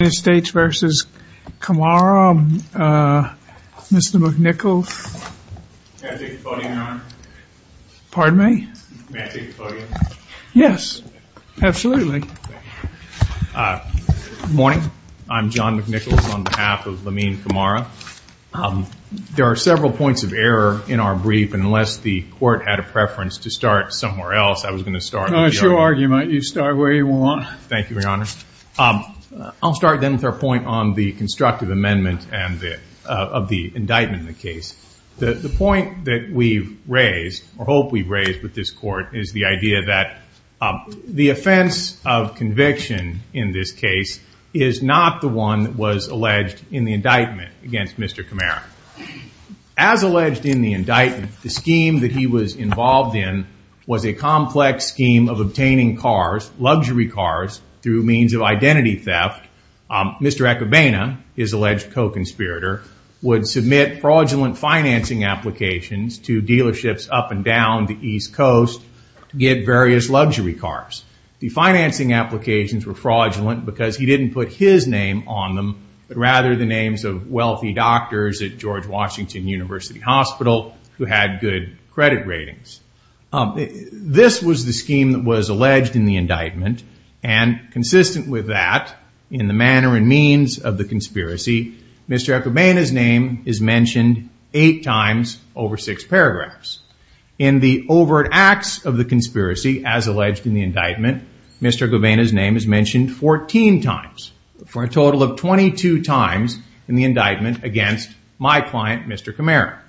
United States v. Camara. Mr. McNichols, pardon me? Yes, absolutely. Good morning. I'm John McNichols on behalf of Lamine Camara. There are several points of error in our brief. Unless the court had a preference to start somewhere else, I was going to start. It's your argument. You start where you want. Thank you, Your Honor. I'll start then with our point on the constructive amendment of the indictment in the case. The point that we've raised, or hope we've raised with this court, is the idea that the offense of conviction in this case is not the one that was alleged in the indictment against Mr. Camara. As alleged in the indictment, the scheme that he was involved in was a complex scheme of obtaining cars, luxury cars, through means of identity theft. Mr. Akabane, his alleged co-conspirator, would submit fraudulent financing applications to dealerships up and down the East Coast to get various luxury cars. The financing applications were fraudulent because he didn't put his name on them, but rather the names of wealthy doctors at George Washington University Hospital who had good credit ratings. This was the scheme that was alleged in the indictment. Consistent with that, in the manner and means of the conspiracy, Mr. Akabane's name is mentioned eight times over six paragraphs. In the overt acts of the conspiracy, as alleged in the indictment, Mr. Akabane's name is mentioned 14 times, for a total of 22 times in the indictment against my client, Mr. Camara.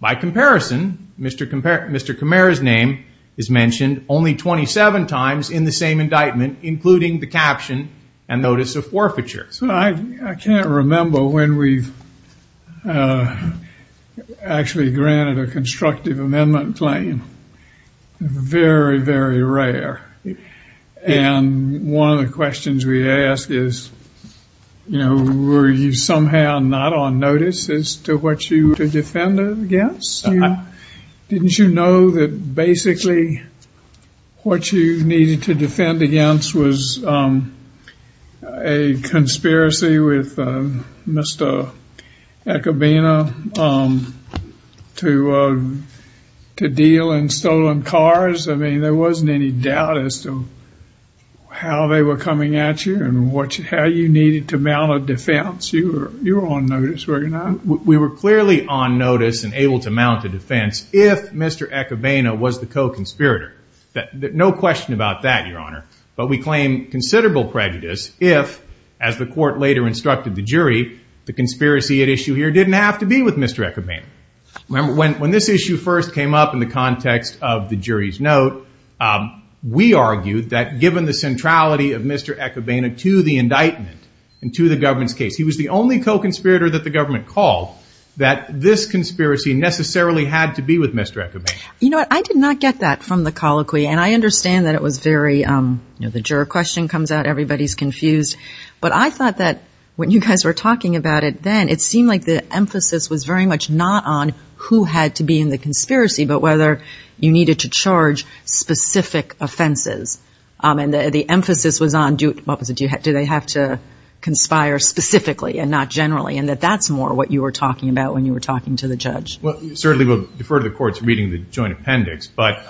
By comparison, Mr. Camara's name is mentioned only 27 times in the same indictment, including the caption and notice of forfeiture. So I can't remember when we've actually granted a constructive amendment claim. Very, very rare. And one of the questions we ask is, you know, were you somehow not on notice as to what you were to defend against? Didn't you know that basically what you needed to defend against was a conspiracy with Mr. Akabane to deal in stolen cars? I mean, there wasn't any doubt as to how they were coming at you and how you needed to mount a defense. You were on notice, were you not? We were clearly on notice and able to mount a defense if Mr. Akabane was the co-conspirator. No question about that, Your Honor. But we claim considerable prejudice if, as the court later instructed the jury, the conspiracy at issue here didn't have to be with Mr. Akabane. Remember, when this issue first came up in the context of the jury's note, we argued that given the centrality of Mr. Akabane to the indictment and to the government's case, he was the only co-conspirator that the government called, that this conspiracy necessarily had to be with Mr. Akabane. You know, I did not get that from the colloquy, and I understand that it was very, you know, the juror question comes out, everybody's confused. But I thought that when you guys were talking about it then, it seemed like the emphasis was very much not on who had to be in the conspiracy, but whether you needed to charge specific offenses. And the emphasis was on do they have to conspire specifically and not generally, and that that's more what you were talking about when you were talking to the judge. Well, certainly we'll defer to the courts reading the joint appendix. But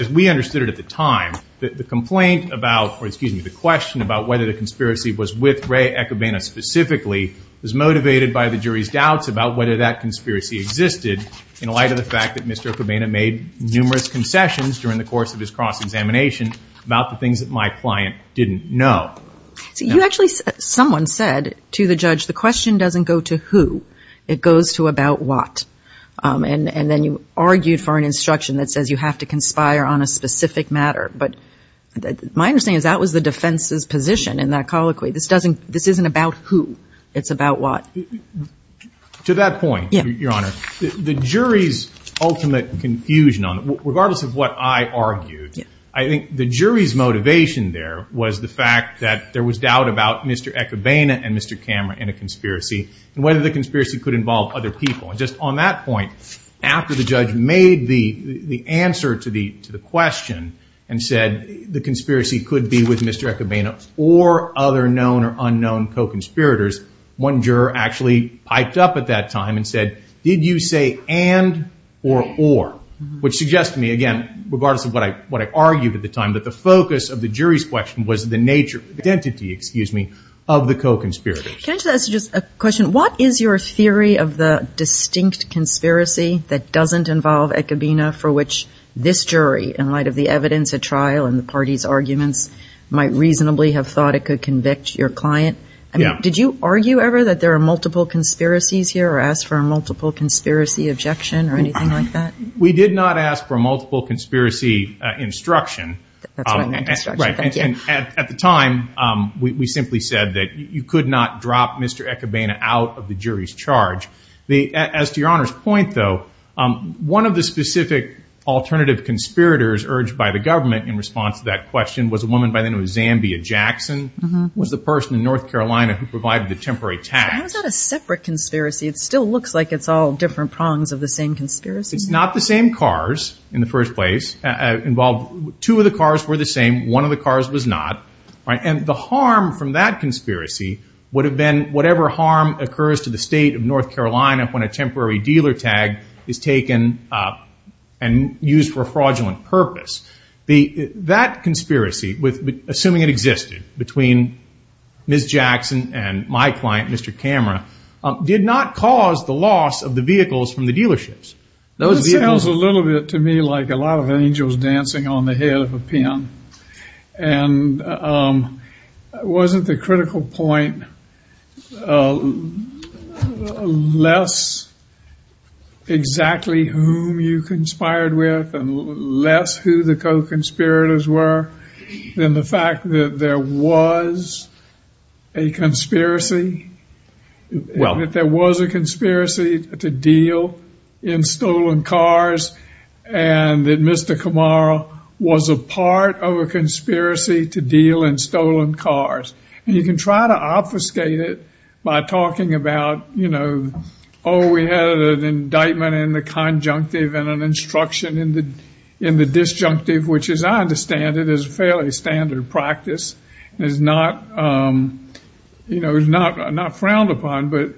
as we understood it at the time, the complaint about, or excuse me, the question about whether the conspiracy was with Ray Akabane specifically was motivated by the jury's doubts about whether that conspiracy existed in light of the fact that Mr. Akabane made numerous concessions during the course of his cross-examination about the things that my client didn't know. You actually, someone said to the judge, the question doesn't go to who, it goes to about what. And then you argued for an instruction that says you have to conspire on a specific matter. But my understanding is that was the defense's position in that colloquy. This isn't about who, it's about what. To that point, Your Honor, the jury's ultimate confusion on it, as I argued, I think the jury's motivation there was the fact that there was doubt about Mr. Akabane and Mr. Cameron in a conspiracy and whether the conspiracy could involve other people. And just on that point, after the judge made the answer to the question and said the conspiracy could be with Mr. Akabane or other known or unknown co-conspirators, one juror actually piped up at that time and said, did you say and or or? Which suggests to me, again, regardless of what I argued at the time, that the focus of the jury's question was the nature, identity, excuse me, of the co-conspirators. Can I just ask a question? What is your theory of the distinct conspiracy that doesn't involve Akabane for which this jury, in light of the evidence at trial and the party's arguments, might reasonably have thought it could convict your client? Did you argue ever that there are multiple conspiracies here or ask for a multiple conspiracy objection or anything like that? We did not ask for multiple conspiracy instruction. That's what I meant, instruction. Thank you. At the time, we simply said that you could not drop Mr. Akabane out of the jury's charge. As to Your Honor's point, though, one of the specific alternative conspirators urged by the government in response to that question was a woman by the name of Zambia Jackson, who was the person in North Carolina who provided the temporary tax. How is that a separate conspiracy? It still looks like it's all different prongs of the same conspiracy. It's not the same cars in the first place. Two of the cars were the same. One of the cars was not. And the harm from that conspiracy would have been whatever harm occurs to the state of North Carolina when a temporary dealer tag is taken and used for a fraudulent purpose. That conspiracy, assuming it existed between Ms. Jackson and my client, Mr. Camera, did not cause the loss of the vehicles from the dealerships. That sounds a little bit to me like a lot of angels dancing on the head of a pin. And wasn't the critical point less exactly whom you conspired with and less who the co-conspirators were than the fact that there was a conspiracy? Well. That there was a conspiracy to deal in stolen cars and that Mr. Camera was a part of a conspiracy to deal in stolen cars. And you can try to obfuscate it by talking about, you know, oh, we had an indictment in the conjunctive and an instruction in the disjunctive, which as I understand it is a fairly standard practice and is not frowned upon. But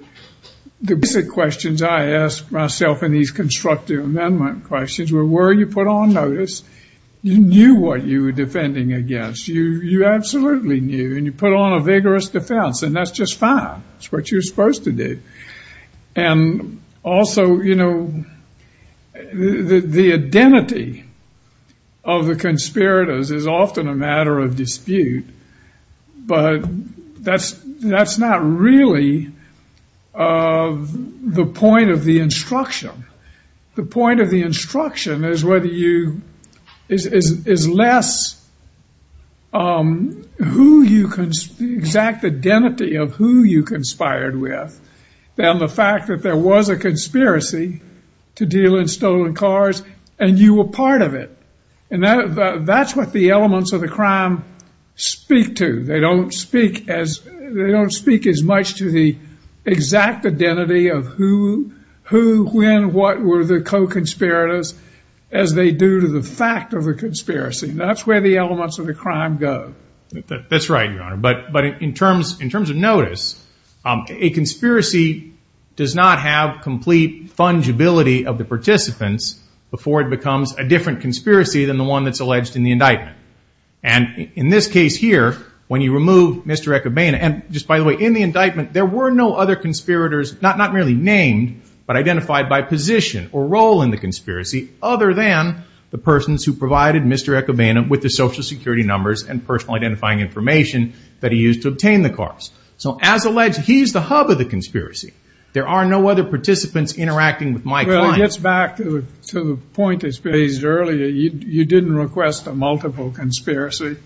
the basic questions I ask myself in these constructive amendment questions were, were you put on notice? You knew what you were defending against. You absolutely knew. And you put on a vigorous defense. And that's just fine. That's what you're supposed to do. And also, you know, the identity of the conspirators is often a matter of dispute. But that's not really the point of the instruction. The point of the instruction is whether you, is less who you, exact identity of who you conspired with than the fact that there was a conspiracy to deal in stolen cars and you were part of it. And that's what the elements of the crime speak to. They don't speak as much to the exact identity of who, when, what were the co-conspirators as they do to the fact of the conspiracy. That's where the elements of the crime go. That's right, Your Honor. But in terms of notice, a conspiracy does not have complete fungibility of the participants before it becomes a different conspiracy than the one that's alleged in the indictment. And in this case here, when you remove Mr. Ecobana, and just by the way, in the indictment, there were no other conspirators, not merely named, but identified by position or role in the conspiracy other than the persons who provided Mr. Ecobana with the Social Security numbers and personal identifying information that he used to obtain the cars. So as alleged, he's the hub of the conspiracy. There are no other participants interacting with my client. Well, it gets back to the point that was raised earlier. You didn't request a multiple conspiracy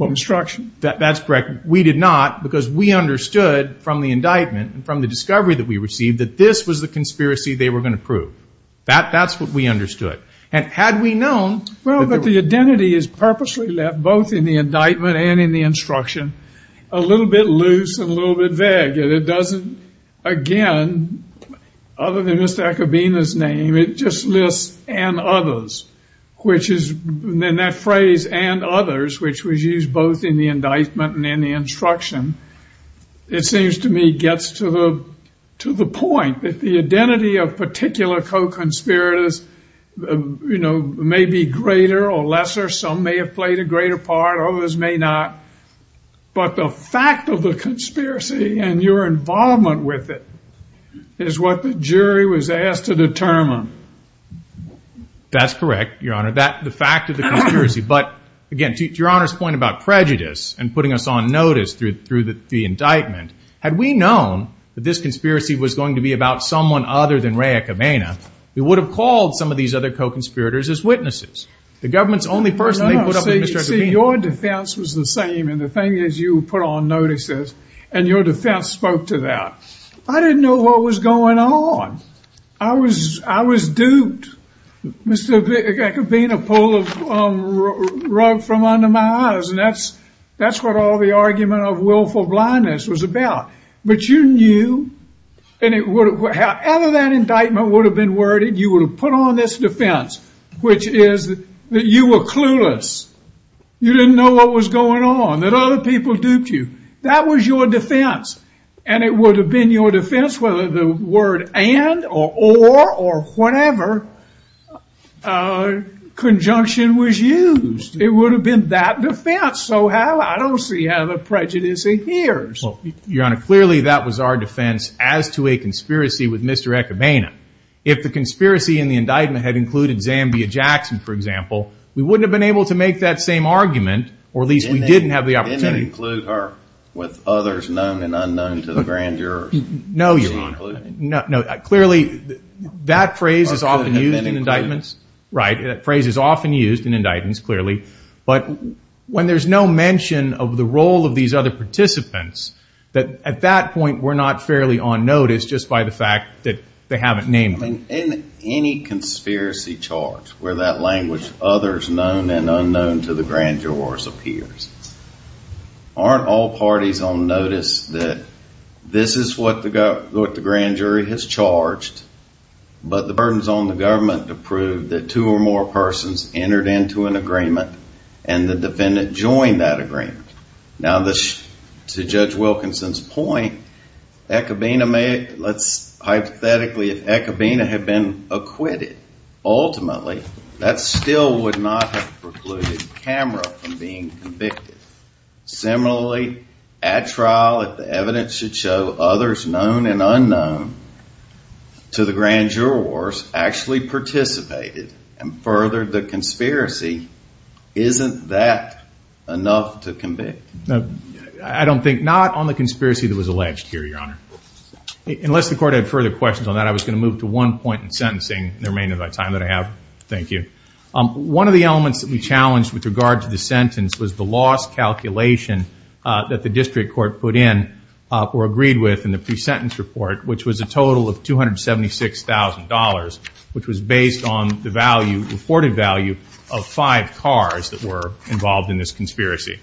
instruction. That's correct. We did not because we understood from the indictment and from the discovery that we received that this was the conspiracy they were going to prove. That's what we understood. And had we known that there were... Well, but the identity is purposely left, both in the indictment and in the instruction, a little bit loose and a little bit vague. And it doesn't, again, other than Mr. Ecobana's name, it just lists and others, which is... And that phrase, and others, which was used both in the indictment and in the instruction, it seems to me gets to the point that the identity of particular co-conspirators, you know, may be greater or lesser. Some may have played a greater part. Others may not. But the fact of the conspiracy and your involvement with it is what the jury was asked to determine. That's correct, Your Honor. The fact of the conspiracy. But, again, to Your Honor's point about prejudice and putting us on notice through the indictment, had we known that this conspiracy was going to be about someone other than Ray Ecobana, we would have called some of these other co-conspirators as witnesses. The government's only person they put up was Mr. Ecobana. No, no. See, your defense was the same, and the thing is you put on notices, and your defense spoke to that. I didn't know what was going on. I was duped. Mr. Ecobana pulled a rug from under my eyes, and that's what all the argument of willful blindness was about. But you knew, and however that indictment would have been worded, you would have put on this defense, which is that you were clueless. You didn't know what was going on, that other people duped you. That was your defense, and it would have been your defense whether the word and or or or whatever conjunction was used. It would have been that defense. So I don't see how the prejudice adheres. Your Honor, clearly that was our defense as to a conspiracy with Mr. Ecobana. If the conspiracy in the indictment had included Zambia Jackson, for example, we wouldn't have been able to make that same argument, or at least we didn't have the opportunity. Did it include her with others known and unknown to the grand jurors? No, Your Honor. Clearly that phrase is often used in indictments. That phrase is often used in indictments, clearly. But when there's no mention of the role of these other participants, at that point we're not fairly on notice just by the fact that they haven't named them. In any conspiracy charge where that language, others known and unknown to the grand jurors, appears, aren't all parties on notice that this is what the grand jury has charged, but the burden is on the government to prove that two or more persons entered into an agreement and the defendant joined that agreement. Now, to Judge Wilkinson's point, hypothetically, if Ecobana had been acquitted, ultimately that still would not have precluded Kamra from being convicted. Similarly, at trial, if the evidence should show others known and unknown to the grand jurors actually participated and furthered the conspiracy, isn't that enough to convict? I don't think not on the conspiracy that was alleged here, Your Honor. Unless the court had further questions on that, I was going to move to one point in sentencing in the remainder of my time that I have. Thank you. One of the elements that we challenged with regard to the sentence was the loss calculation that the district court put in or agreed with in the pre-sentence report, which was a total of $276,000, which was based on the value, reported value of five cars that were involved in this conspiracy.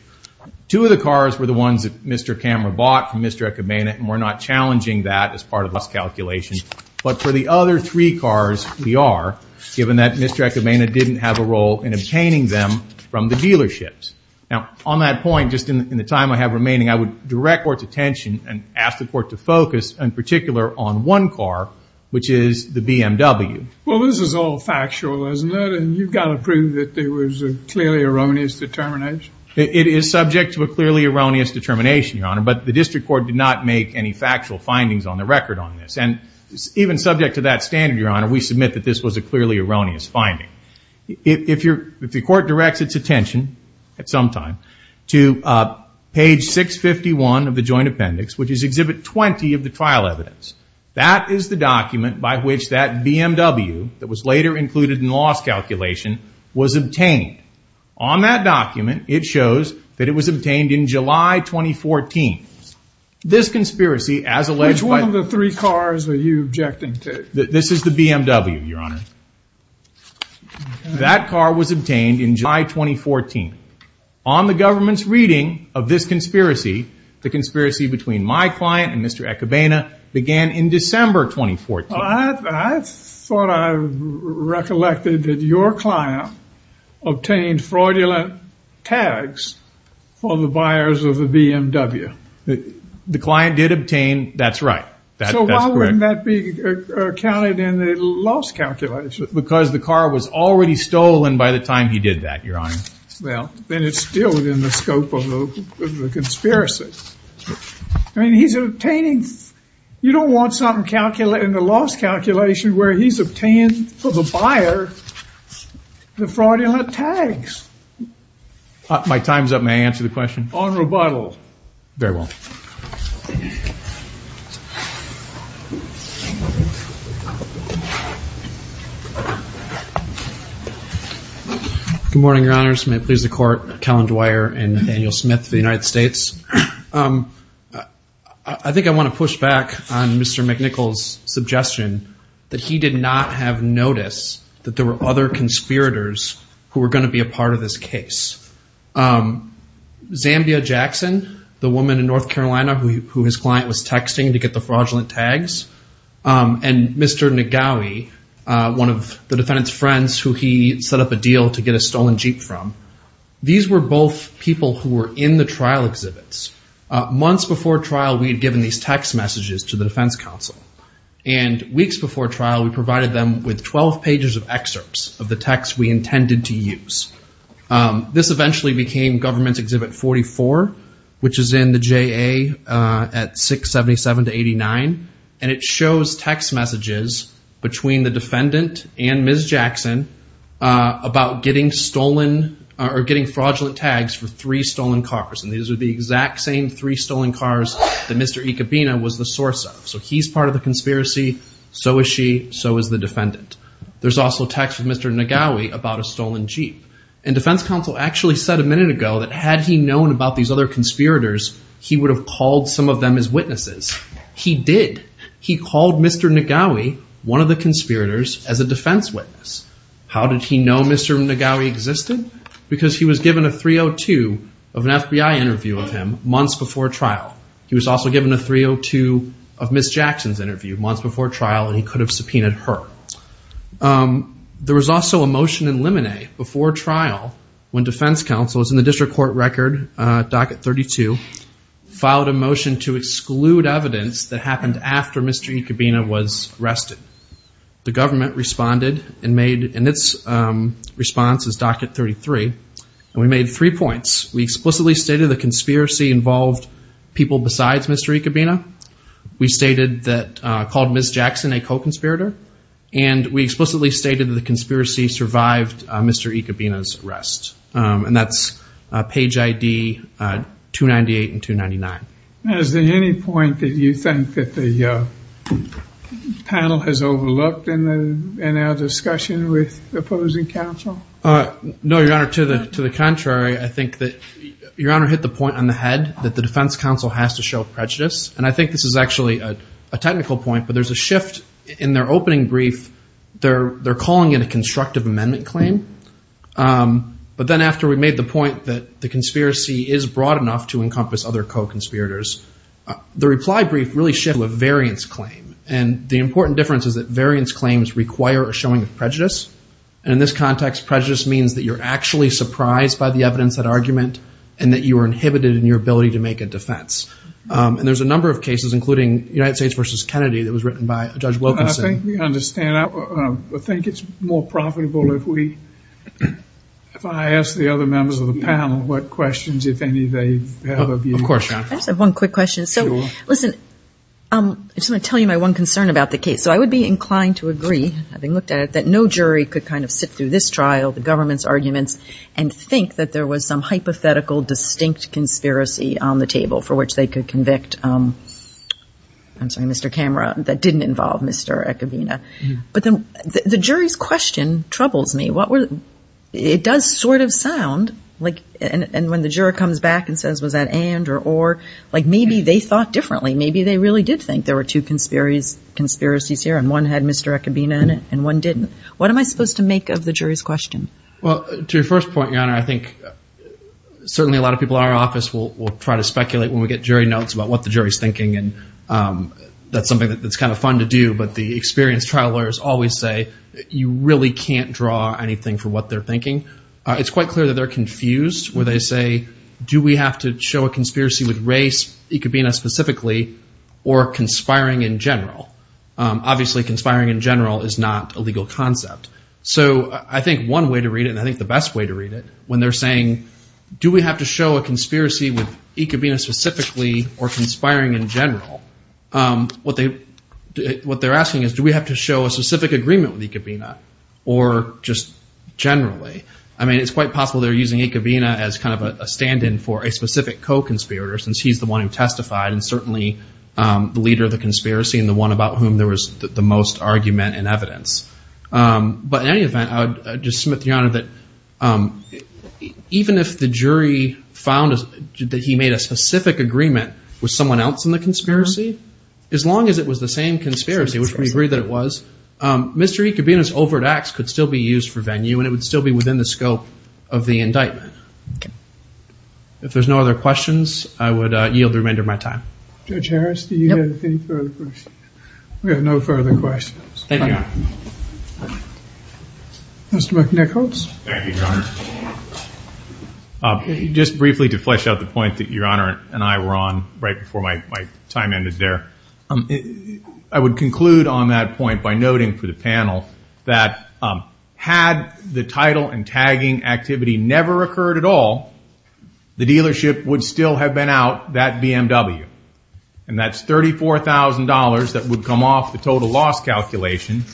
Two of the cars were the ones that Mr. Kamra bought from Mr. Ecobana, and we're not challenging that as part of the calculation. But for the other three cars, we are, given that Mr. Ecobana didn't have a role in obtaining them from the dealerships. Now, on that point, just in the time I have remaining, I would direct court's attention and ask the court to focus in particular on one car, which is the BMW. Well, this is all factual, isn't it, and you've got to prove that there was a clearly erroneous determination? It is subject to a clearly erroneous determination, Your Honor, but the district court did not make any factual findings on the record on this. And even subject to that standard, Your Honor, we submit that this was a clearly erroneous finding. If the court directs its attention, at some time, to page 651 of the joint appendix, which is exhibit 20 of the trial evidence, that is the document by which that BMW, that was later included in the loss calculation, was obtained. On that document, it shows that it was obtained in July 2014. This conspiracy, as alleged by... Which one of the three cars are you objecting to? This is the BMW, Your Honor. That car was obtained in July 2014. On the government's reading of this conspiracy, the conspiracy between my client and Mr. Echebena began in December 2014. I thought I recollected that your client obtained fraudulent tags for the buyers of the BMW. The client did obtain, that's right. So why wouldn't that be counted in the loss calculation? Because the car was already stolen by the time he did that, Your Honor. Well, then it's still within the scope of the conspiracy. I mean, he's obtaining... You don't want something calculated in the loss calculation where he's obtained for the buyer the fraudulent tags. My time's up. May I answer the question? On rebuttal. Very well. Thank you. Good morning, Your Honors. May it please the Court, Kellen Dwyer and Nathaniel Smith of the United States. I think I want to push back on Mr. McNichol's suggestion that he did not have notice that there were other conspirators who were going to be a part of this case. Zambia Jackson, the woman in North Carolina who his client was texting to get the fraudulent tags, and Mr. Negawi, one of the defendant's friends who he set up a deal to get a stolen Jeep from, these were both people who were in the trial exhibits. Months before trial, we had given these text messages to the defense counsel. And weeks before trial, we provided them with 12 pages of excerpts of the text we intended to use. This eventually became Government Exhibit 44, which is in the JA at 677-89. And it shows text messages between the defendant and Ms. Jackson about getting fraudulent tags for three stolen cars. And these are the exact same three stolen cars that Mr. Ikebina was the source of. So he's part of the conspiracy, so is she, so is the defendant. There's also text with Mr. Negawi about a stolen Jeep. And defense counsel actually said a minute ago that had he known about these other conspirators, he would have called some of them as witnesses. He did. He called Mr. Negawi, one of the conspirators, as a defense witness. How did he know Mr. Negawi existed? Because he was given a 302 of an FBI interview of him months before trial. He was also given a 302 of Ms. Jackson's interview months before trial, and he could have subpoenaed her. There was also a motion in Lemonnet before trial when defense counsel was in the district court record, docket 32, filed a motion to exclude evidence that happened after Mr. Ikebina was arrested. The government responded and made, and its response is docket 33, and we made three points. We explicitly stated the conspiracy involved people besides Mr. Ikebina. We stated that, called Ms. Jackson a co-conspirator. And we explicitly stated that the conspiracy survived Mr. Ikebina's arrest. And that's page ID 298 and 299. Is there any point that you think that the panel has overlooked in our discussion with opposing counsel? No, Your Honor. To the contrary, I think that Your Honor hit the point on the head that the defense counsel has to show prejudice, and I think this is actually a technical point, but there's a shift in their opening brief. They're calling it a constructive amendment claim. But then after we made the point that the conspiracy is broad enough to encompass other co-conspirators, the reply brief really shifted to a variance claim. And the important difference is that variance claims require a showing of prejudice. And in this context, prejudice means that you're actually surprised by the evidence, that argument, and that you are inhibited in your ability to make a defense. And there's a number of cases, including United States v. Kennedy, that was written by Judge Wilkinson. I think we understand. I think it's more profitable if I ask the other members of the panel what questions, if any, they have of you. Of course, Your Honor. I just have one quick question. Sure. Listen, I just want to tell you my one concern about the case. So I would be inclined to agree, having looked at it, that no jury could kind of sit through this trial, the government's arguments, and think that there was some hypothetical distinct conspiracy on the table for which they could convict Mr. Camera that didn't involve Mr. Echevina. But the jury's question troubles me. It does sort of sound like, and when the juror comes back and says, was that and or or, like maybe they thought differently. Maybe they really did think there were two conspiracies here, and one had Mr. Echevina in it and one didn't. What am I supposed to make of the jury's question? Well, to your first point, Your Honor, I think certainly a lot of people in our office will try to speculate when we get jury notes about what the jury's thinking, and that's something that's kind of fun to do. But the experienced trial lawyers always say you really can't draw anything for what they're thinking. It's quite clear that they're confused where they say, do we have to show a conspiracy with race, Echevina specifically, or conspiring in general? Obviously, conspiring in general is not a legal concept. So I think one way to read it, and I think the best way to read it, when they're saying, do we have to show a conspiracy with Echevina specifically or conspiring in general? What they're asking is, do we have to show a specific agreement with Echevina or just generally? I mean, it's quite possible they're using Echevina as kind of a stand-in for a specific co-conspirator since he's the one who testified and certainly the leader of the conspiracy and the one about whom there was the most argument and evidence. But in any event, I would just submit to Your Honor that even if the jury found that he made a specific agreement with someone else in the conspiracy, as long as it was the same conspiracy, which we agree that it was, Mr. Echevina's overt acts could still be used for venue and it would still be within the scope of the indictment. If there's no other questions, I would yield the remainder of my time. Judge Harris, do you have any further questions? We have no further questions. Thank you. Mr. McNichols. Thank you, Your Honor. Just briefly to flesh out the point that Your Honor and I were on right before my time ended there, I would conclude on that point by noting for the panel that had the title and tagging activity never occurred at all, the dealership would still have been out that BMW, and that's $34,000 that would come off the total loss calculation,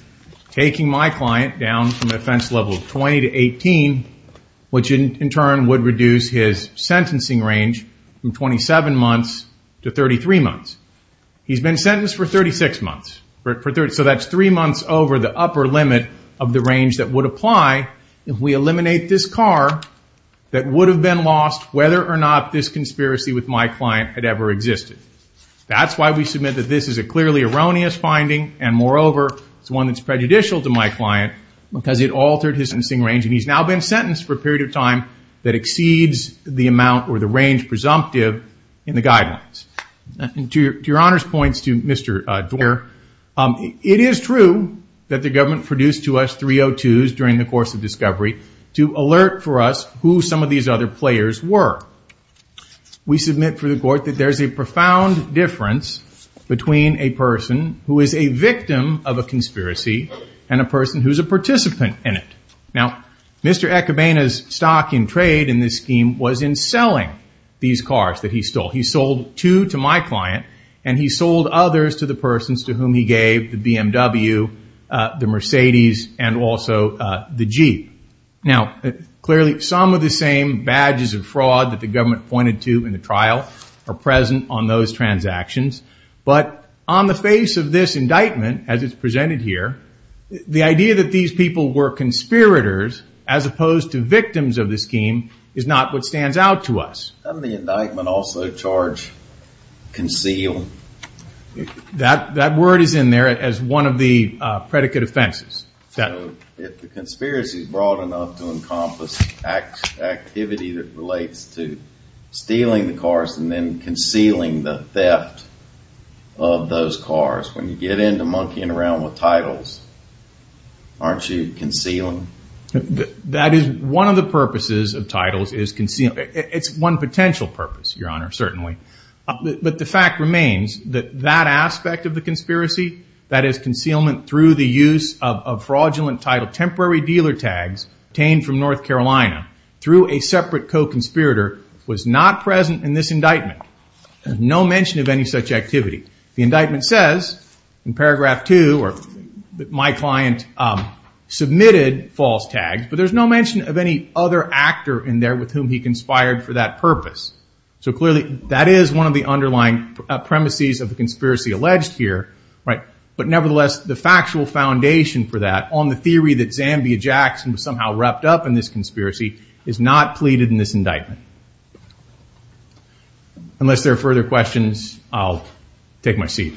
taking my client down from offense level 20 to 18, which in turn would reduce his sentencing range from 27 months to 33 months. He's been sentenced for 36 months. So that's three months over the upper limit of the range that would apply if we eliminate this car that would have been lost whether or not this car existed. That's why we submit that this is a clearly erroneous finding, and moreover, it's one that's prejudicial to my client, because it altered his sentencing range, and he's now been sentenced for a period of time that exceeds the amount or the range presumptive in the guidelines. To Your Honor's points to Mr. Dwyer, it is true that the government produced to us 302s during the course of discovery to alert for us who some of these other players were. We submit for the court that there's a profound difference between a person who is a victim of a conspiracy and a person who's a participant in it. Now, Mr. Ecobaina's stock in trade in this scheme was in selling these cars that he stole. He sold two to my client, and he sold others to the persons to whom he gave, the BMW, the Mercedes, and also the Jeep. Now, clearly some of the same badges of fraud that the government pointed to in the trial are present on those transactions, but on the face of this indictment as it's presented here, the idea that these people were conspirators as opposed to victims of the scheme is not what stands out to us. Doesn't the indictment also charge conceal? That word is in there as one of the predicate offenses. If the conspiracy is broad enough to encompass activity that relates to stealing the cars and then concealing the theft of those cars, when you get into monkeying around with titles, aren't you concealing? That is one of the purposes of titles is concealment. It's one potential purpose, Your Honor, certainly. But the fact remains that that aspect of the conspiracy, that is concealment through the use of fraudulent title, temporary dealer tags obtained from North Carolina through a separate co-conspirator was not present in this indictment. No mention of any such activity. The indictment says in paragraph two, my client submitted false tags, but there's no mention of any other actor in there with whom he conspired for that purpose. So clearly that is one of the underlying premises of the conspiracy alleged here, but nevertheless, the factual foundation for that on the theory that Zambia Jackson was somehow wrapped up in this conspiracy is not pleaded in this indictment. Unless there are further questions, I'll take my seat.